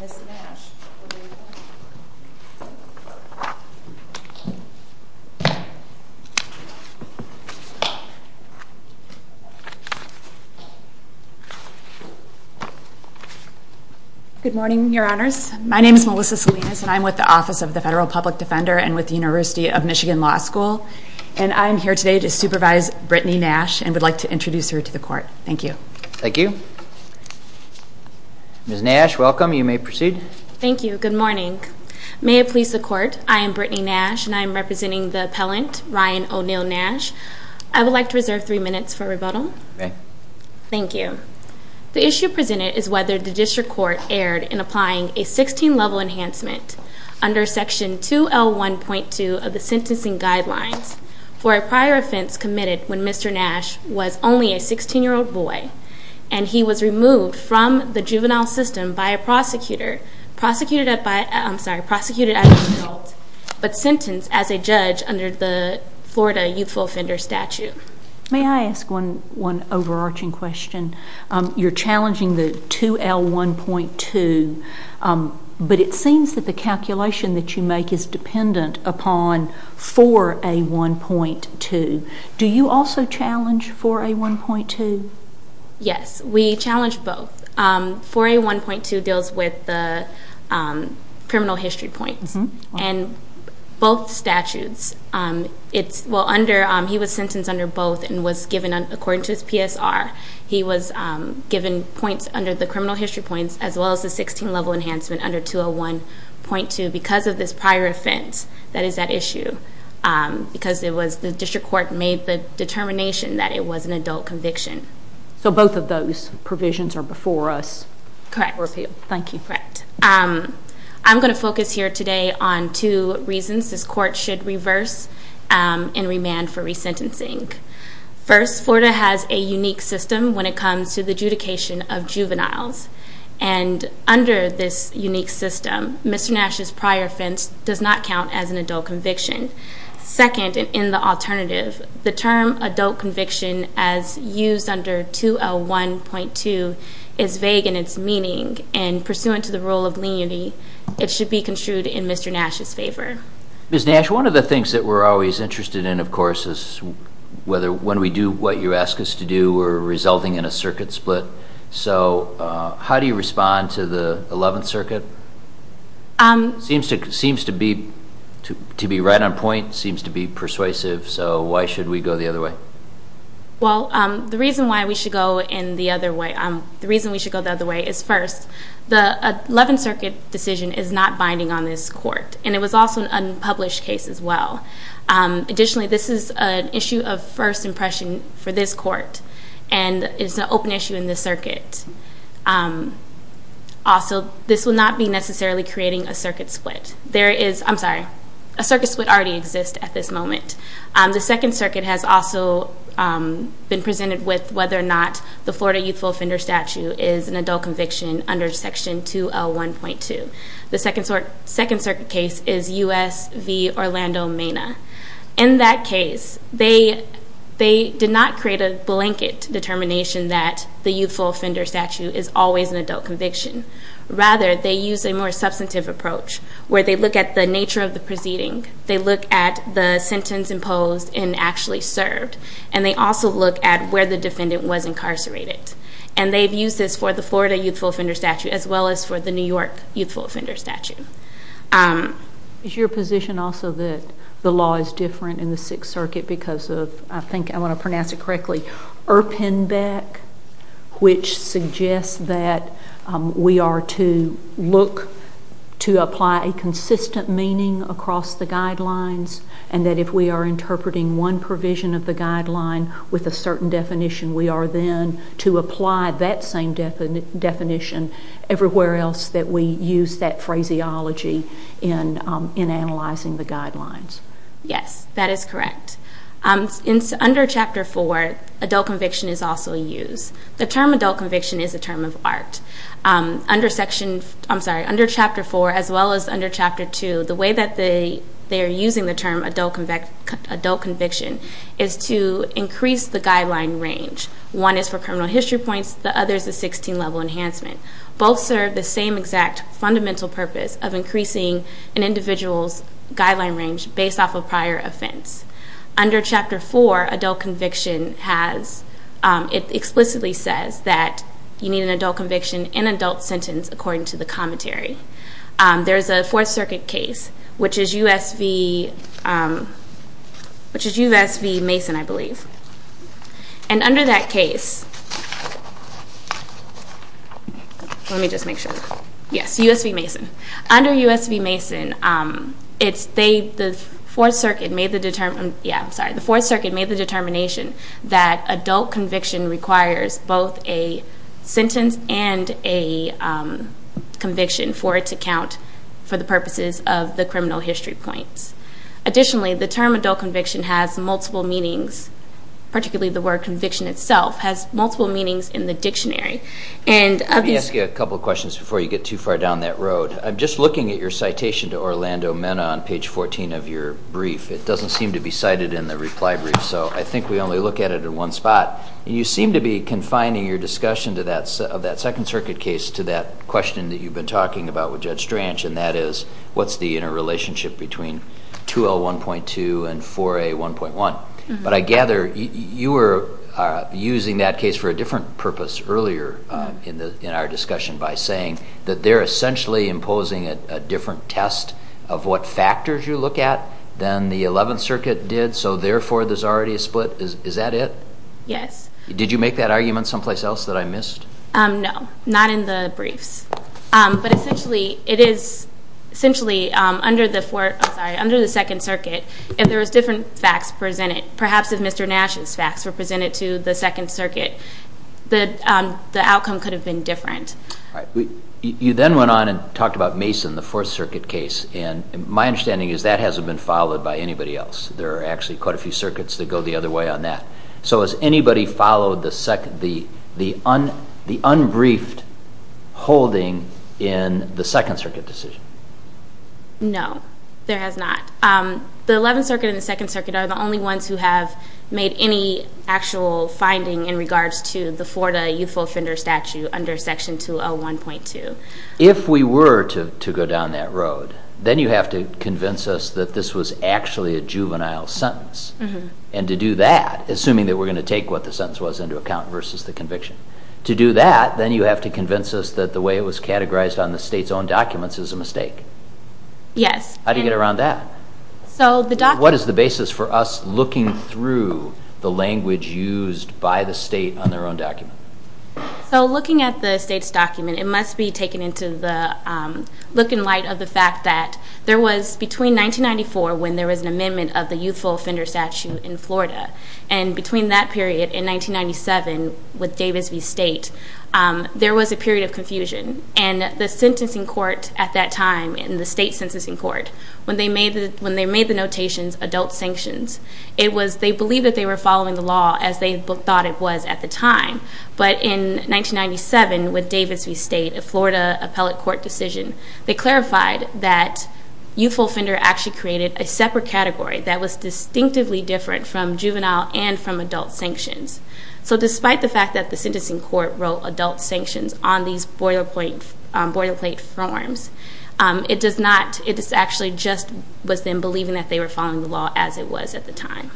Ms. Nash, over to you. Good morning, your honors. My name is Melissa Salinas and I'm with the Office of the Federal Public Defender and with the University of Michigan Law School. And I'm here today to supervise Brittany Nash and would like to introduce her to the court. Thank you. Thank you. Ms. Nash, welcome. You may proceed. Thank you. Good morning. May it please the court, I am Brittany Nash and I am representing the appellant, Ryon O'Neill Nash. I would like to reserve three minutes for rebuttal. Okay. Thank you. The issue presented is whether the district court erred in applying a 16-level enhancement under section 2L1.2 of the sentencing guidelines for a prior offense committed when Mr. Nash was only a 16-year-old boy and he was removed from the juvenile system by a prosecutor, prosecuted by, I'm sorry, prosecuted as an adult but sentenced as a judge under the Florida youthful offender statute. May I ask one overarching question? You're challenging the 2L1.2, but it seems that the calculation that you make is dependent upon 4A1.2. Do you also challenge 4A1.2? Yes, we challenge both. 4A1.2 deals with the criminal history points and both statutes. He was sentenced under both and was given, according to his PSR, he was given points under the criminal history points as well as the 16-level enhancement under 2L1.2 because of this prior offense that is at issue because it was the district court made the determination that it was an adult conviction. So both of those provisions are before us? Correct. Thank you. Correct. I'm going to focus here today on two reasons this court should reverse and remand for resentencing. First, Florida has a unique system when it comes to the adjudication of juveniles. And under this unique system, Mr. Nash's prior offense does not count as an adult conviction. Second, and in the alternative, the term adult conviction as used under 2L1.2 is vague in its meaning and pursuant to the rule of leniency, it should be construed in Mr. Nash's favor. Ms. Nash, one of the things that we're always interested in, of course, is whether when we do what you ask us to do, we're resulting in a circuit split. So how do you respond to the Eleventh Circuit? Seems to be right on point, seems to be persuasive. So why should we go the other way? Well, the reason why we should go the other way is first, the Eleventh Circuit decision is not binding on this court, and it was also an unpublished case as well. Additionally, this is an issue of first impression for this court, and it's an open issue in the circuit. Also, this will not be necessarily creating a circuit split. There is, I'm sorry, a circuit split already exists at this moment. The Second Circuit has also been presented with whether or not the Florida Youthful Offender Statute is an adult conviction under Section 2L1.2. In that case, they did not create a blanket determination that the Youthful Offender Statute is always an adult conviction. Rather, they used a more substantive approach where they look at the nature of the proceeding, they look at the sentence imposed and actually served, and they also look at where the defendant was incarcerated. And they've used this for the Florida Youthful Offender Statute as well as for the New York Youthful Offender Statute. Is your position also that the law is different in the Sixth Circuit because of, I think I want to pronounce it correctly, Irpenbeck, which suggests that we are to look to apply a consistent meaning across the guidelines, and that if we are interpreting one provision of the guideline with a certain definition, we are then to apply that same definition everywhere else that we use that phraseology in analyzing the guidelines? Yes, that is correct. Under Chapter 4, adult conviction is also used. The term adult conviction is a term of art. Under Chapter 4 as well as under Chapter 2, the way that they are using the term adult conviction is to increase the guideline range. One is for criminal history points, the other is a 16-level enhancement. Both serve the same exact fundamental purpose of increasing an individual's guideline range based off of prior offense. Under Chapter 4, adult conviction explicitly says that you need an adult conviction in an adult sentence according to the commentary. There is a Fourth Circuit case, which is US v. Mason, I believe. And under that case, let me just make sure, yes, US v. Mason. Under US v. Mason, the Fourth Circuit made the determination that adult conviction requires both a sentence and a conviction for it to count for the purposes of the criminal history points. Additionally, the term adult conviction has multiple meanings, particularly the word conviction itself has multiple meanings in the dictionary. Let me ask you a couple of questions before you get too far down that road. I'm just looking at your citation to Orlando Mena on page 14 of your brief. It doesn't seem to be cited in the reply brief, so I think we only look at it in one spot. You seem to be confining your discussion of that Second Circuit case to that question that you've been talking about with Judge Strange, and that is, what's the interrelationship between 2L1.2 and 4A1.1? But I gather you were using that case for a different purpose earlier in our discussion by saying that they're essentially imposing a different test of what factors you look at than the Eleventh Circuit did, so therefore there's already a split. Is that it? Yes. Did you make that argument someplace else that I missed? No, not in the briefs. But essentially, it is, essentially, under the Second Circuit, if there was different facts presented, perhaps if Mr. Nash's facts were presented to the Second Circuit, the outcome could have been different. You then went on and talked about Mason, the Fourth Circuit case, and my understanding is that hasn't been followed by anybody else. There are actually quite a few circuits that go the other way on that. So has anybody followed the unbriefed holding in the Second Circuit decision? No, there has not. The Eleventh Circuit and the Second Circuit are the only ones who have made any actual finding in regards to the Florida youthful offender statute under Section 2L1.2. If we were to go down that road, then you have to convince us that this was actually a juvenile sentence, and to do that, assuming that we're going to take what the sentence was into account versus the conviction. To do that, then you have to convince us that the way it was categorized on the state's own documents is a mistake. Yes. How do you get around that? So the document... What is the basis for us looking through the language used by the state on their own document? So looking at the state's document, it must be taken into the look and light of the fact that there was, between 1994, when there was an amendment of the youthful offender statute in Florida, and between that period in 1997 with Davis v. State, there was a period of confusion. And the sentencing court at that time in the state's sentencing court, when they made the notations adult sanctions, they believed that they were following the law as they thought it was at the time. But in 1997, with Davis v. State, a Florida appellate court decision, they clarified that youthful offender actually created a separate category that was distinctively different from juvenile and from adult sanctions. So despite the fact that the sentencing court wrote adult sanctions on these boilerplate forms, it does not... It just actually just was them believing that they were following the law as it was at the time.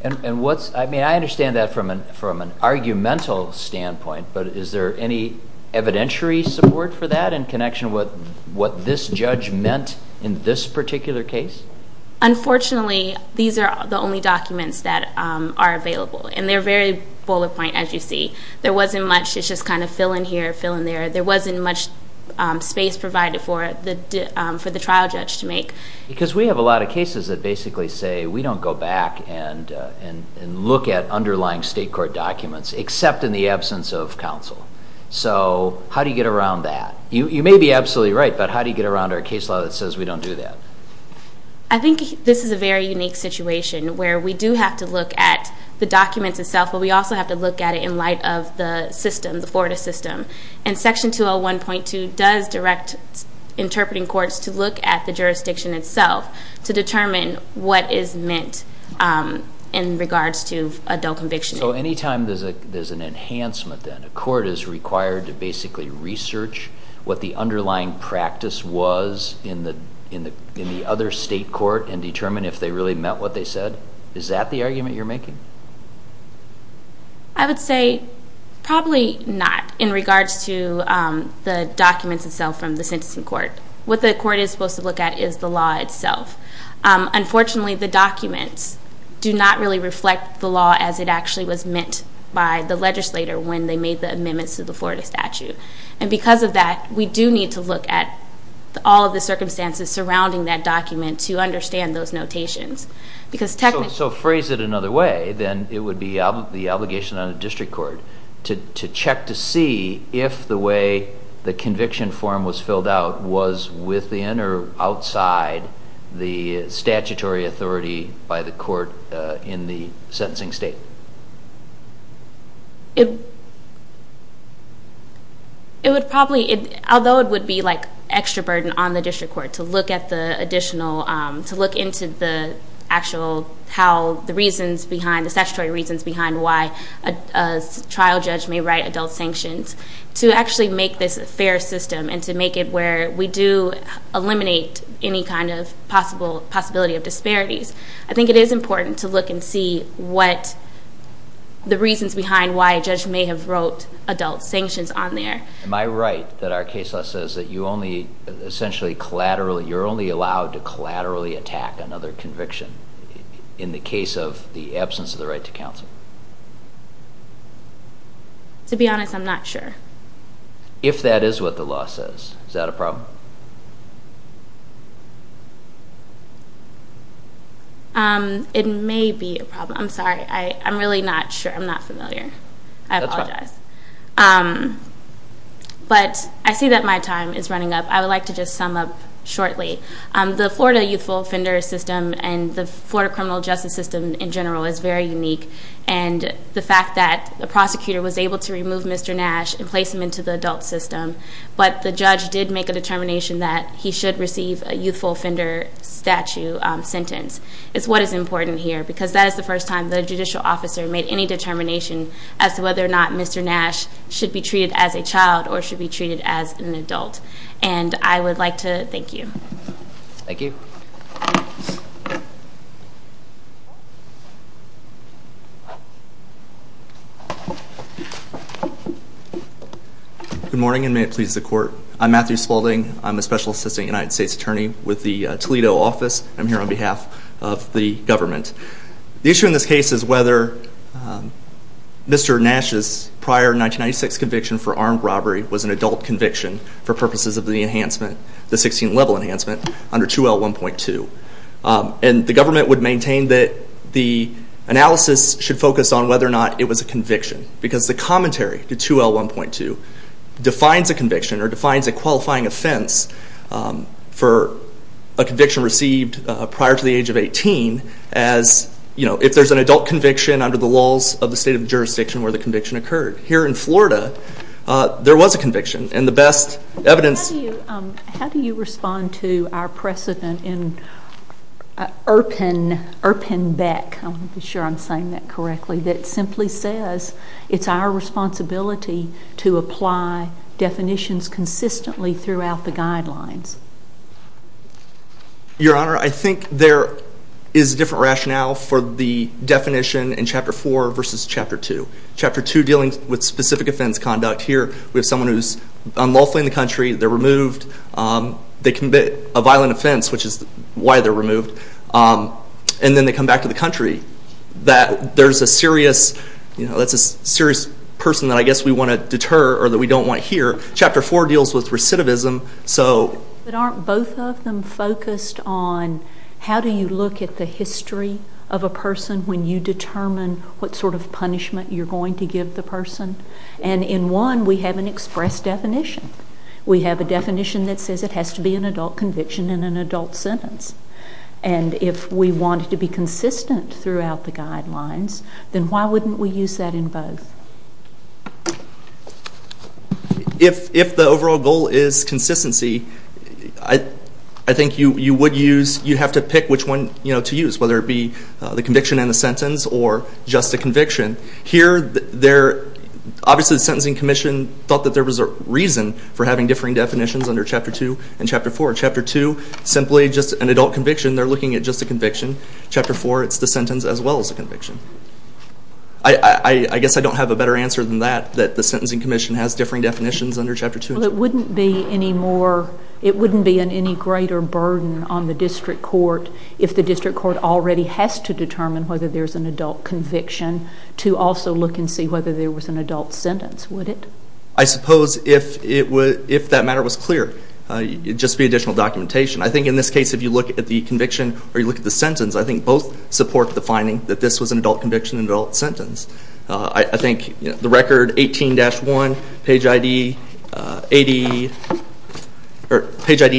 And what's... I mean, I understand that from an argumental standpoint, but is there any evidentiary support for that in connection with what this judge meant in this particular case? Unfortunately, these are the only documents that are available. And they're very boilerplate, as you see. There wasn't much. It's just kind of fill in here, fill in there. There wasn't much space provided for the trial judge to make. Because we have a lot of cases that basically say, we don't go back and look at underlying state court documents, except in the absence of counsel. So how do you get around that? You may be absolutely right, but how do you get around our case law that says we don't do that? I think this is a very unique situation where we do have to look at the documents itself, but we also have to look at it in light of the system, the Florida system. And Section 201.2 does direct interpreting courts to look at the jurisdiction itself to determine what is meant in regards to adult conviction. So any time there's an enhancement then, a court is required to basically research what the underlying practice was in the other state court and determine if they really meant what Is that the argument you're making? I would say probably not in regards to the documents itself from the sentencing court. What the court is supposed to look at is the law itself. Unfortunately, the documents do not really reflect the law as it actually was meant by the legislator when they made the amendments to the Florida statute. And because of that, we do need to look at all of the circumstances surrounding that document to understand those notations. So phrase it another way, then it would be the obligation on the district court to check to see if the way the conviction form was filled out was within or outside the statutory authority by the court in the sentencing state. It would probably, although it would be like extra burden on the district court to look at the additional, to look into the actual, how the reasons behind, the statutory reasons behind why a trial judge may write adult sanctions to actually make this a fair system and to make it where we do eliminate any kind of possibility of disparities. I think it is important to look and see what the reasons behind why a judge may have wrote adult sanctions on there. Am I right that our case law says that you only, essentially, collaterally, you're only allowed to collaterally attack another conviction in the case of the absence of the right to counsel? To be honest, I'm not sure. If that is what the law says, is that a problem? It may be a problem. I'm sorry. I'm really not sure. I'm not familiar. That's fine. I apologize. But I see that my time is running up. I would like to just sum up shortly. The Florida youthful offender system and the Florida criminal justice system in general is very unique. And the fact that the prosecutor was able to remove Mr. Nash and place him into the adult system, but the judge did make a determination that he should receive a youthful offender statute sentence, is what is important here. Because that is the first time the judicial officer made any determination as to whether or not Mr. Nash should be treated as a child or should be treated as an adult. And I would like to thank you. Thank you. Good morning and may it please the court. I'm Matthew Spaulding. I'm a Special Assistant United States Attorney with the Toledo office. I'm here on behalf of the government. The issue in this case is whether Mr. Nash's prior 1996 conviction for armed robbery was an adult conviction for purposes of the enhancement, the 16th level enhancement under 2L1.2. And the government would maintain that the analysis should focus on whether or not it was a conviction. Because the commentary to 2L1.2 defines a conviction or defines a qualifying offense for a conviction received prior to the age of 18 as, you know, if there's an adult conviction under the laws of the state of the jurisdiction where the conviction occurred. Here in Florida, there was a conviction. And the best evidence... How do you respond to our precedent in Irpin Beck, I'm not sure I'm saying that correctly, that simply says it's our responsibility to apply definitions consistently throughout the guidelines? Your Honor, I think there is a different rationale for the definition in Chapter 4 versus Chapter 2. Chapter 2 dealing with specific offense conduct. Here we have someone who's unlawfully in the country, they're removed, they commit a violent offense, which is why they're removed, and then they come back to the country. That there's a serious, you know, that's a serious person that I guess we want to deter or that we don't want here. Chapter 4 deals with recidivism, so... But aren't both of them focused on how do you look at the history of a person when you determine what sort of punishment you're going to give the person? And in one, we have an express definition. We have a definition that says it has to be an adult conviction in an adult sentence. And if we want it to be consistent throughout the guidelines, then why wouldn't we use that in both? If the overall goal is consistency, I think you would use, you'd have to pick which one to use, whether it be the conviction in the sentence or just a conviction. Here they're, obviously the Sentencing Commission thought that there was a reason for having differing definitions under Chapter 2 and Chapter 4. Chapter 2, simply just an adult conviction, they're looking at just a conviction. Chapter 4, it's the sentence as well as the conviction. I guess I don't have a better answer than that, that the Sentencing Commission has differing definitions under Chapter 2 and Chapter 4. Well, it wouldn't be any more, it wouldn't be any greater burden on the district court if the district court already has to determine whether there's an adult conviction to also look and see whether there was an adult sentence, would it? I suppose if that matter was clear, it'd just be additional documentation. I think in this case, if you look at the conviction or you look at the sentence, I think both support the finding that this was an adult conviction and adult sentence. I think the record 18-1, page ID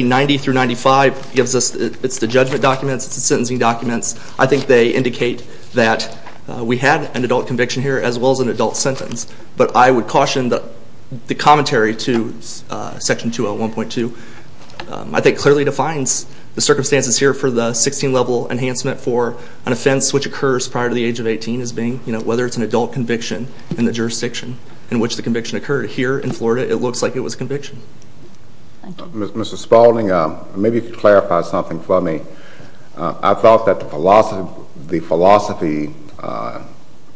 90-95 gives us, it's the judgment documents, it's the sentencing documents. I think they indicate that we had an adult conviction here as well as an adult sentence. But I would caution the commentary to Section 201.2, I think clearly defines the circumstances here for the 16-level enhancement for an offense which occurs prior to the age of 18 as being, you know, whether it's an adult conviction in the jurisdiction in which the conviction occurred. Here in Florida, it looks like it was a conviction. Mr. Spaulding, maybe you could clarify something for me. I thought that the philosophy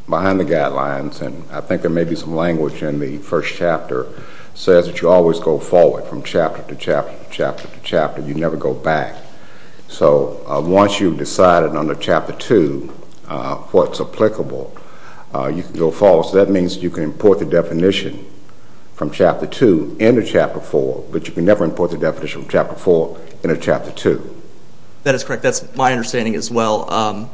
behind the guidelines, and I think there may be some language in the first chapter, says that you always go forward from chapter to chapter to chapter to chapter. You never go back. So once you've decided on the Chapter 2, what's applicable, you can go forward. That means you can import the definition from Chapter 2 into Chapter 4, but you can never import the definition from Chapter 4 into Chapter 2. That is correct. That's my understanding as well.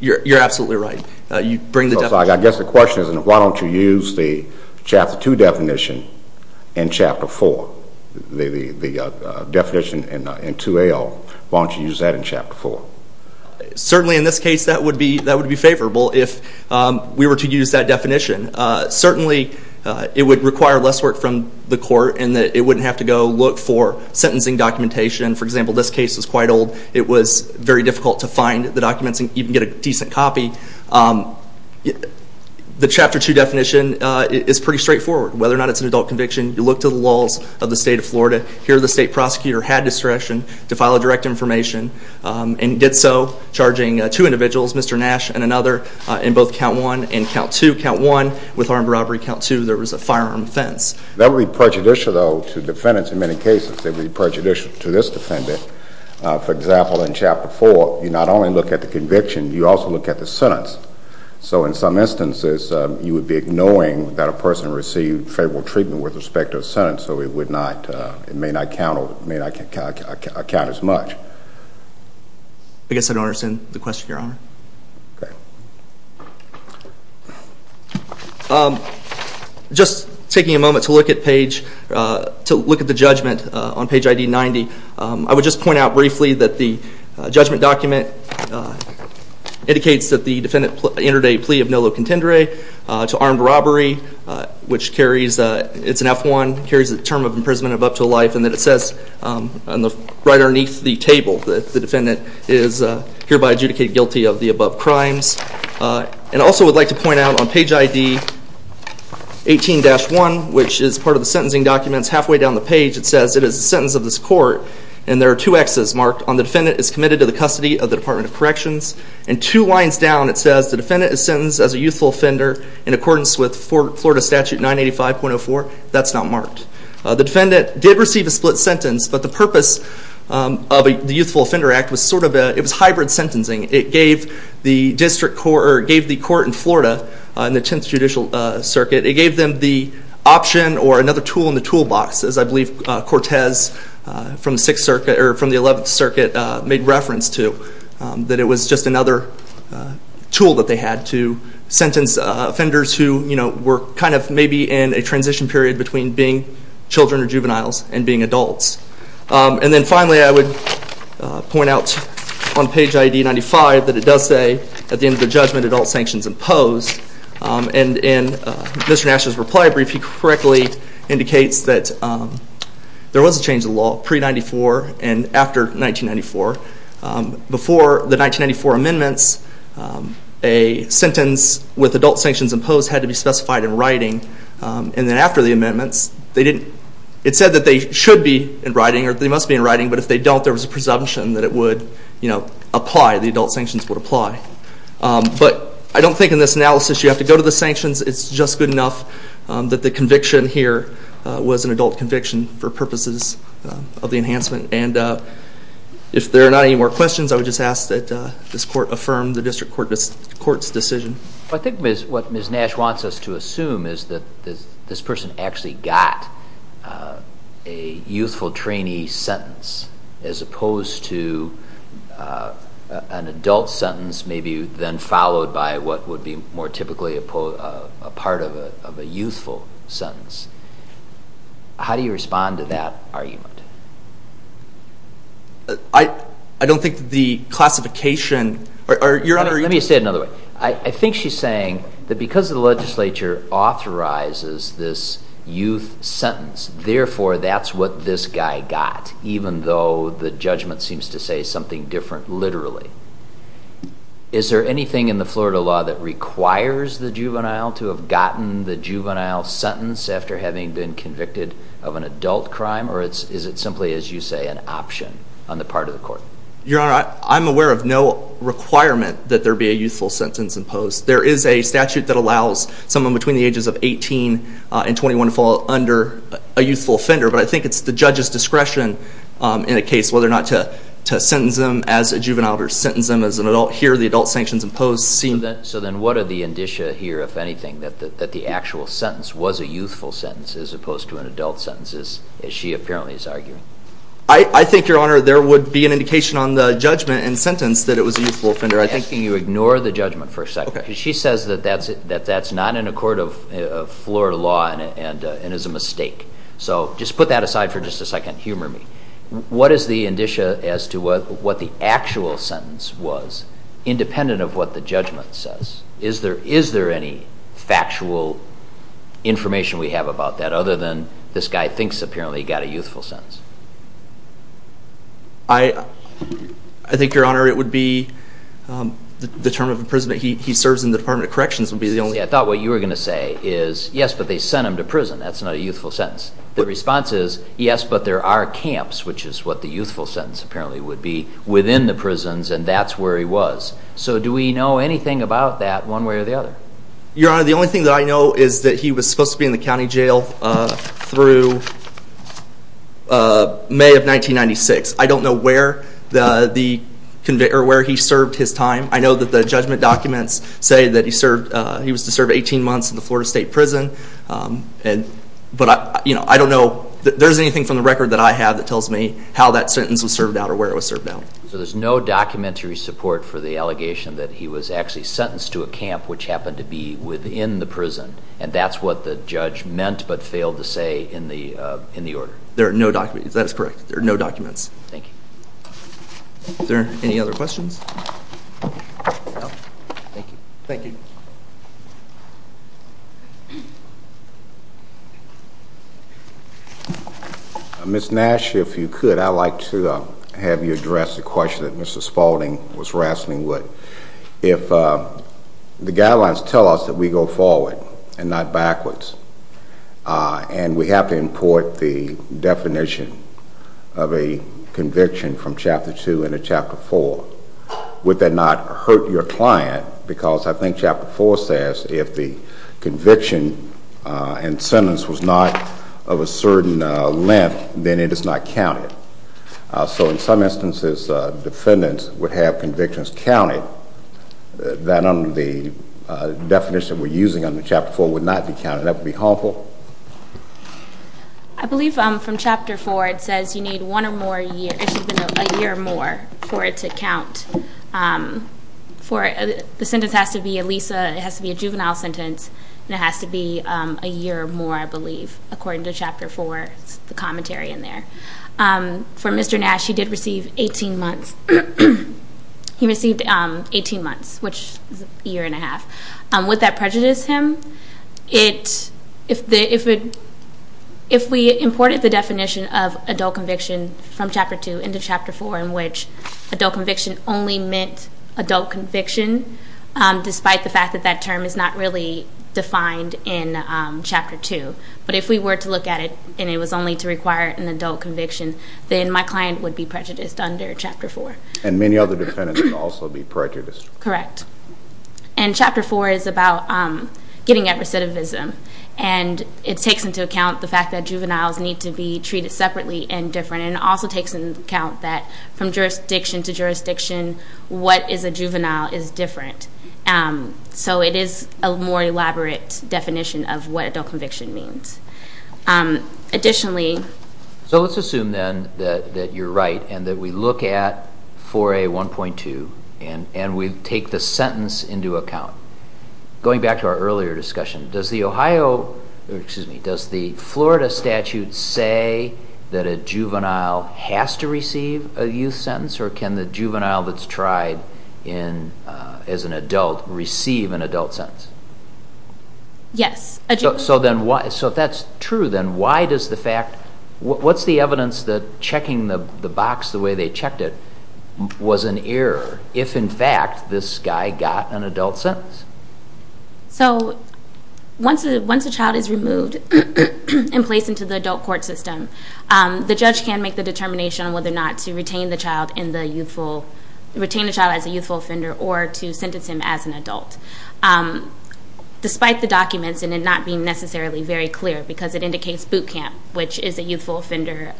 You're absolutely right. You bring the definition. My question is, why don't you use the Chapter 2 definition in Chapter 4, the definition in 2AL? Why don't you use that in Chapter 4? Certainly in this case, that would be favorable if we were to use that definition. Certainly it would require less work from the court in that it wouldn't have to go look for sentencing documentation. For example, this case is quite old. It was very difficult to find the documents and even get a decent copy. The Chapter 2 definition is pretty straightforward. Whether or not it's an adult conviction, you look to the laws of the state of Florida. Here the state prosecutor had discretion to file a direct information and did so charging two individuals, Mr. Nash and another, in both Count 1 and Count 2. Count 1 with armed robbery, Count 2 there was a firearm offense. That would be prejudicial though to defendants in many cases. That would be prejudicial to this defendant. For example, in Chapter 4, you not only look at the conviction, you also look at the sentence. So in some instances, you would be ignoring that a person received favorable treatment with respect to a sentence, so it may not count as much. I guess I don't understand the question, Your Honor. Just taking a moment to look at the judgment on page ID 90, I would just point out briefly that the judgment document indicates that the defendant entered a plea of nullo contendere to armed robbery, which carries, it's an F1, carries the term of imprisonment of up to life, and that it says right underneath the table that the defendant is hereby adjudicated guilty of the above crimes. And I also would like to point out on page ID 18-1, which is part of the sentencing documents, halfway down the page it says it is a sentence of this court, and there are two X's marked on the defendant is committed to the custody of the Department of Corrections. And two lines down it says the defendant is sentenced as a youthful offender in accordance with Florida Statute 985.04. That's not marked. The defendant did receive a split sentence, but the purpose of the Youthful Offender Act was sort of a, it was hybrid sentencing. It gave the district court, or it gave the court in Florida, in the 10th Judicial Circuit, it gave them the option or another tool in the toolbox, as I believe Cortez from the 6th Circuit, or from the 11th Circuit made reference to, that it was just another tool that they had to sentence offenders who, you know, were kind of maybe in a transition period between being children or juveniles and being adults. And then finally I would point out on page ID 95 that it does say at the end of the judgment adult sanctions imposed. And in Mr. Nash's reply brief he correctly indicates that there was a change of law pre-94 and after 1994. Before the 1994 amendments, a sentence with adult sanctions imposed had to be specified in writing. And then after the amendments, they didn't, it said that they should be in writing, or they must be in writing, but if they don't there was a presumption that it would, you know, apply, the adult sanctions would apply. But I don't think in this analysis you have to go to the sanctions, it's just good enough that the conviction here was an adult conviction for purposes of the enhancement. And if there are not any more questions I would just ask that this court affirm the district court's decision. I think what Ms. Nash wants us to assume is that this person actually got a youthful trainee sentence as opposed to an adult sentence maybe then followed by what would be more typically a part of a youthful sentence. How do you respond to that argument? I don't think the classification, or you're under- Let me say it another way. I think she's saying that because the legislature authorizes this youth sentence, therefore that's what this guy got, even though the judgment seems to say something different literally. Is there anything in the Florida law that requires the juvenile to have gotten the juvenile sentence after having been convicted of an adult crime, or is it simply, as you say, an option on the part of the court? Your Honor, I'm aware of no requirement that there be a youthful sentence imposed. There is a statute that allows someone between the ages of 18 and 21 to fall under a youthful offender, but I think it's the judge's discretion in a case whether or not to sentence them as a juvenile or sentence them as an adult. Here the adult sanctions imposed seem- So then what are the indicia here, if anything, that the actual sentence was a youthful sentence as opposed to an adult sentence, as she apparently is arguing? I think, Your Honor, there would be an indication on the judgment and sentence that it was a youthful offender. I think- Can you ignore the judgment for a second? Okay. Because she says that that's not in a court of Florida law and is a mistake. So just put that aside for just a second, humor me. What is the indicia as to what the actual sentence was, independent of what the judgment says? Is there any factual information we have about that other than this guy thinks apparently got a youthful sentence? I think, Your Honor, it would be the term of imprisonment. He serves in the Department of Corrections would be the only- See, I thought what you were going to say is, yes, but they sent him to prison. That's not a youthful sentence. The response is, yes, but there are camps, which is what the youthful sentence apparently would be, within the prisons, and that's where he was. So do we know anything about that one way or the other? Your Honor, the only thing that I know is that he was supposed to be in the county jail through May of 1996. I don't know where he served his time. I know that the judgment documents say that he was to serve 18 months in the Florida State Prison, but I don't know that there's anything from the record that I have that tells me how that sentence was served out or where it was served out. So there's no documentary support for the allegation that he was actually sentenced to a camp, which happened to be within the prison, and that's what the judge meant but failed to say in the order. There are no documents. That is correct. There are no documents. Thank you. Is there any other questions? No? Thank you. Thank you. Ms. Nash, if you could, I'd like to have you address a question that Mr. Spalding was asking. The guidelines tell us that we go forward and not backwards, and we have to import the definition of a conviction from Chapter 2 into Chapter 4. Would that not hurt your client, because I think Chapter 4 says if the conviction and sentence was not of a certain length, then it is not counted. So in some instances, defendants would have convictions counted, then the definition we're using in Chapter 4 would not be counted. That would be harmful? I believe from Chapter 4, it says you need one or more years, a year or more, for it to count. The sentence has to be at least, it has to be a juvenile sentence, and it has to be a year or more, I believe, according to Chapter 4, the commentary in there. For Mr. Nash, he did receive 18 months. He received 18 months, which is a year and a half. Would that prejudice him? If we imported the definition of adult conviction from Chapter 2 into Chapter 4, in which adult conviction only meant adult conviction, despite the fact that that term is not really defined in Chapter 2, but if we were to look at it and it was only to require an adult conviction, then my client would be prejudiced under Chapter 4. And many other defendants would also be prejudiced. Correct. And Chapter 4 is about getting at recidivism, and it takes into account the fact that juveniles need to be treated separately and different, and it also takes into account that from jurisdiction to jurisdiction, what is a juvenile is different. So, it is a more elaborate definition of what adult conviction means. Additionally... So, let's assume, then, that you're right, and that we look at 4A1.2, and we take the sentence into account. Going back to our earlier discussion, does the Ohio, or excuse me, does the Florida statute say that a juvenile has to receive a youth sentence, or can the juvenile that's tried as an adult receive an adult sentence? Yes. So, if that's true, then why does the fact... What's the evidence that checking the box the way they checked it was an error, if in fact this guy got an adult sentence? So, once a child is removed and placed into the adult court system, the judge can make the determination on whether or not to retain the child as a youthful offender or to sentence him as an adult, despite the documents and it not being necessarily very clear, because it indicates boot camp, which is a youthful offender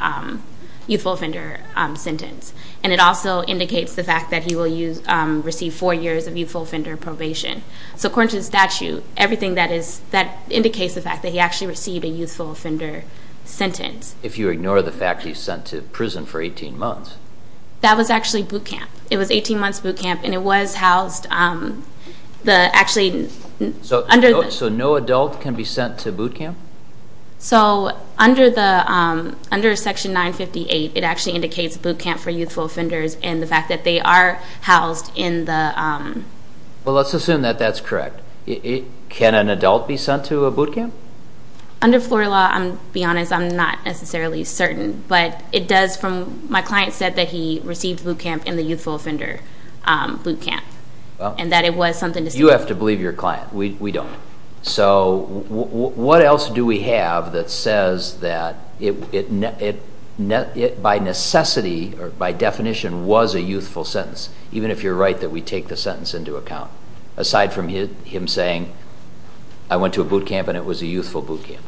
sentence, and it also indicates the fact that he will receive four years of youthful offender probation. So, according to the statute, everything that indicates the fact that he actually received a youthful offender sentence. If you ignore the fact that he's sent to prison for 18 months. That was actually boot camp. It was 18 months boot camp, and it was housed, actually under... So, no adult can be sent to boot camp? So, under section 958, it actually indicates boot camp for youthful offenders, and the fact that they are housed in the... Well, let's assume that that's correct. Can an adult be sent to a boot camp? Under Florida law, to be honest, I'm not necessarily certain, but it does from... My client said that he received boot camp in the youthful offender boot camp, and that it was something to... You have to believe your client. We don't. So, what else do we have that says that it by necessity or by definition was a youthful sentence, even if you're right that we take the sentence into account, aside from him saying, I went to a boot camp, and it was a youthful boot camp?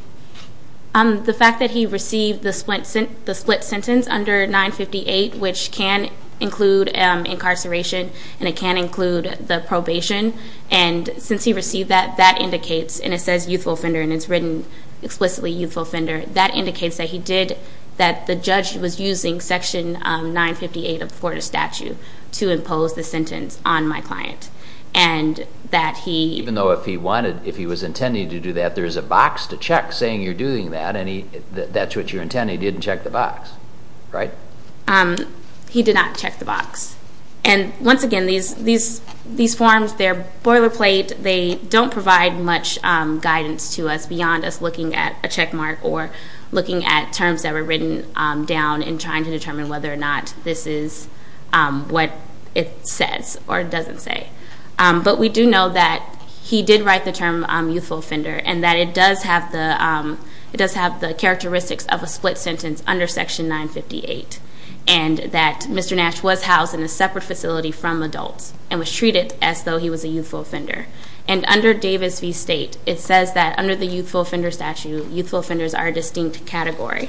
The fact that he received the split sentence under 958, which can include incarceration, and it can include the probation, and since he received that, that indicates, and it says youthful offender, and it's written explicitly youthful offender, that indicates that he did... That the judge was using section 958 of Florida statute to impose the sentence on my client, and that he... Even though if he wanted, if he was intending to do that, there's a box to check saying you're doing that, and that's what you're intending, he didn't check the box, right? He did not check the box. And once again, these forms, they're boilerplate, they don't provide much guidance to us beyond us looking at a check mark or looking at terms that were written down in trying to determine whether or not this is what it says or doesn't say. But we do know that he did write the term youthful offender, and that it does have the characteristics of a split sentence under section 958, and that Mr. Nash was housed in a separate facility from adults, and was treated as though he was a youthful offender. And under Davis v. State, it says that under the youthful offender statute, youthful offenders are a distinct category.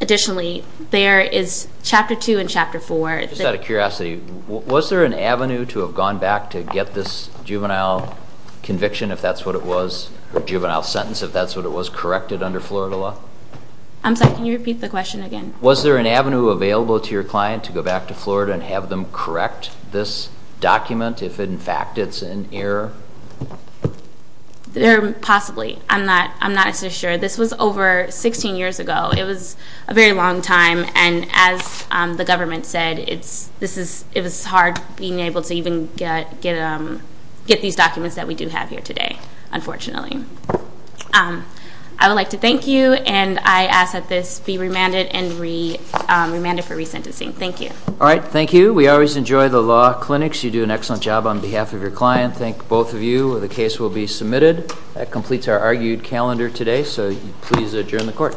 Additionally, there is chapter two and chapter four... Just out of curiosity, was there an avenue to have gone back to get this juvenile conviction if that's what it was, or juvenile sentence if that's what it was, corrected under Florida law? I'm sorry, can you repeat the question again? Was there an avenue available to your client to go back to Florida and have them correct this document if in fact it's in error? Possibly. I'm not so sure. This was over 16 years ago. It was a very long time, and as the government said, it was hard being able to even get these documents that we do have here today, unfortunately. I would like to thank you, and I ask that this be remanded for resentencing. Thank you. All right, thank you. We always enjoy the law clinics. You do an excellent job on behalf of your client. Thank both of you. The case will be submitted. That completes our argued calendar today, so please adjourn the court.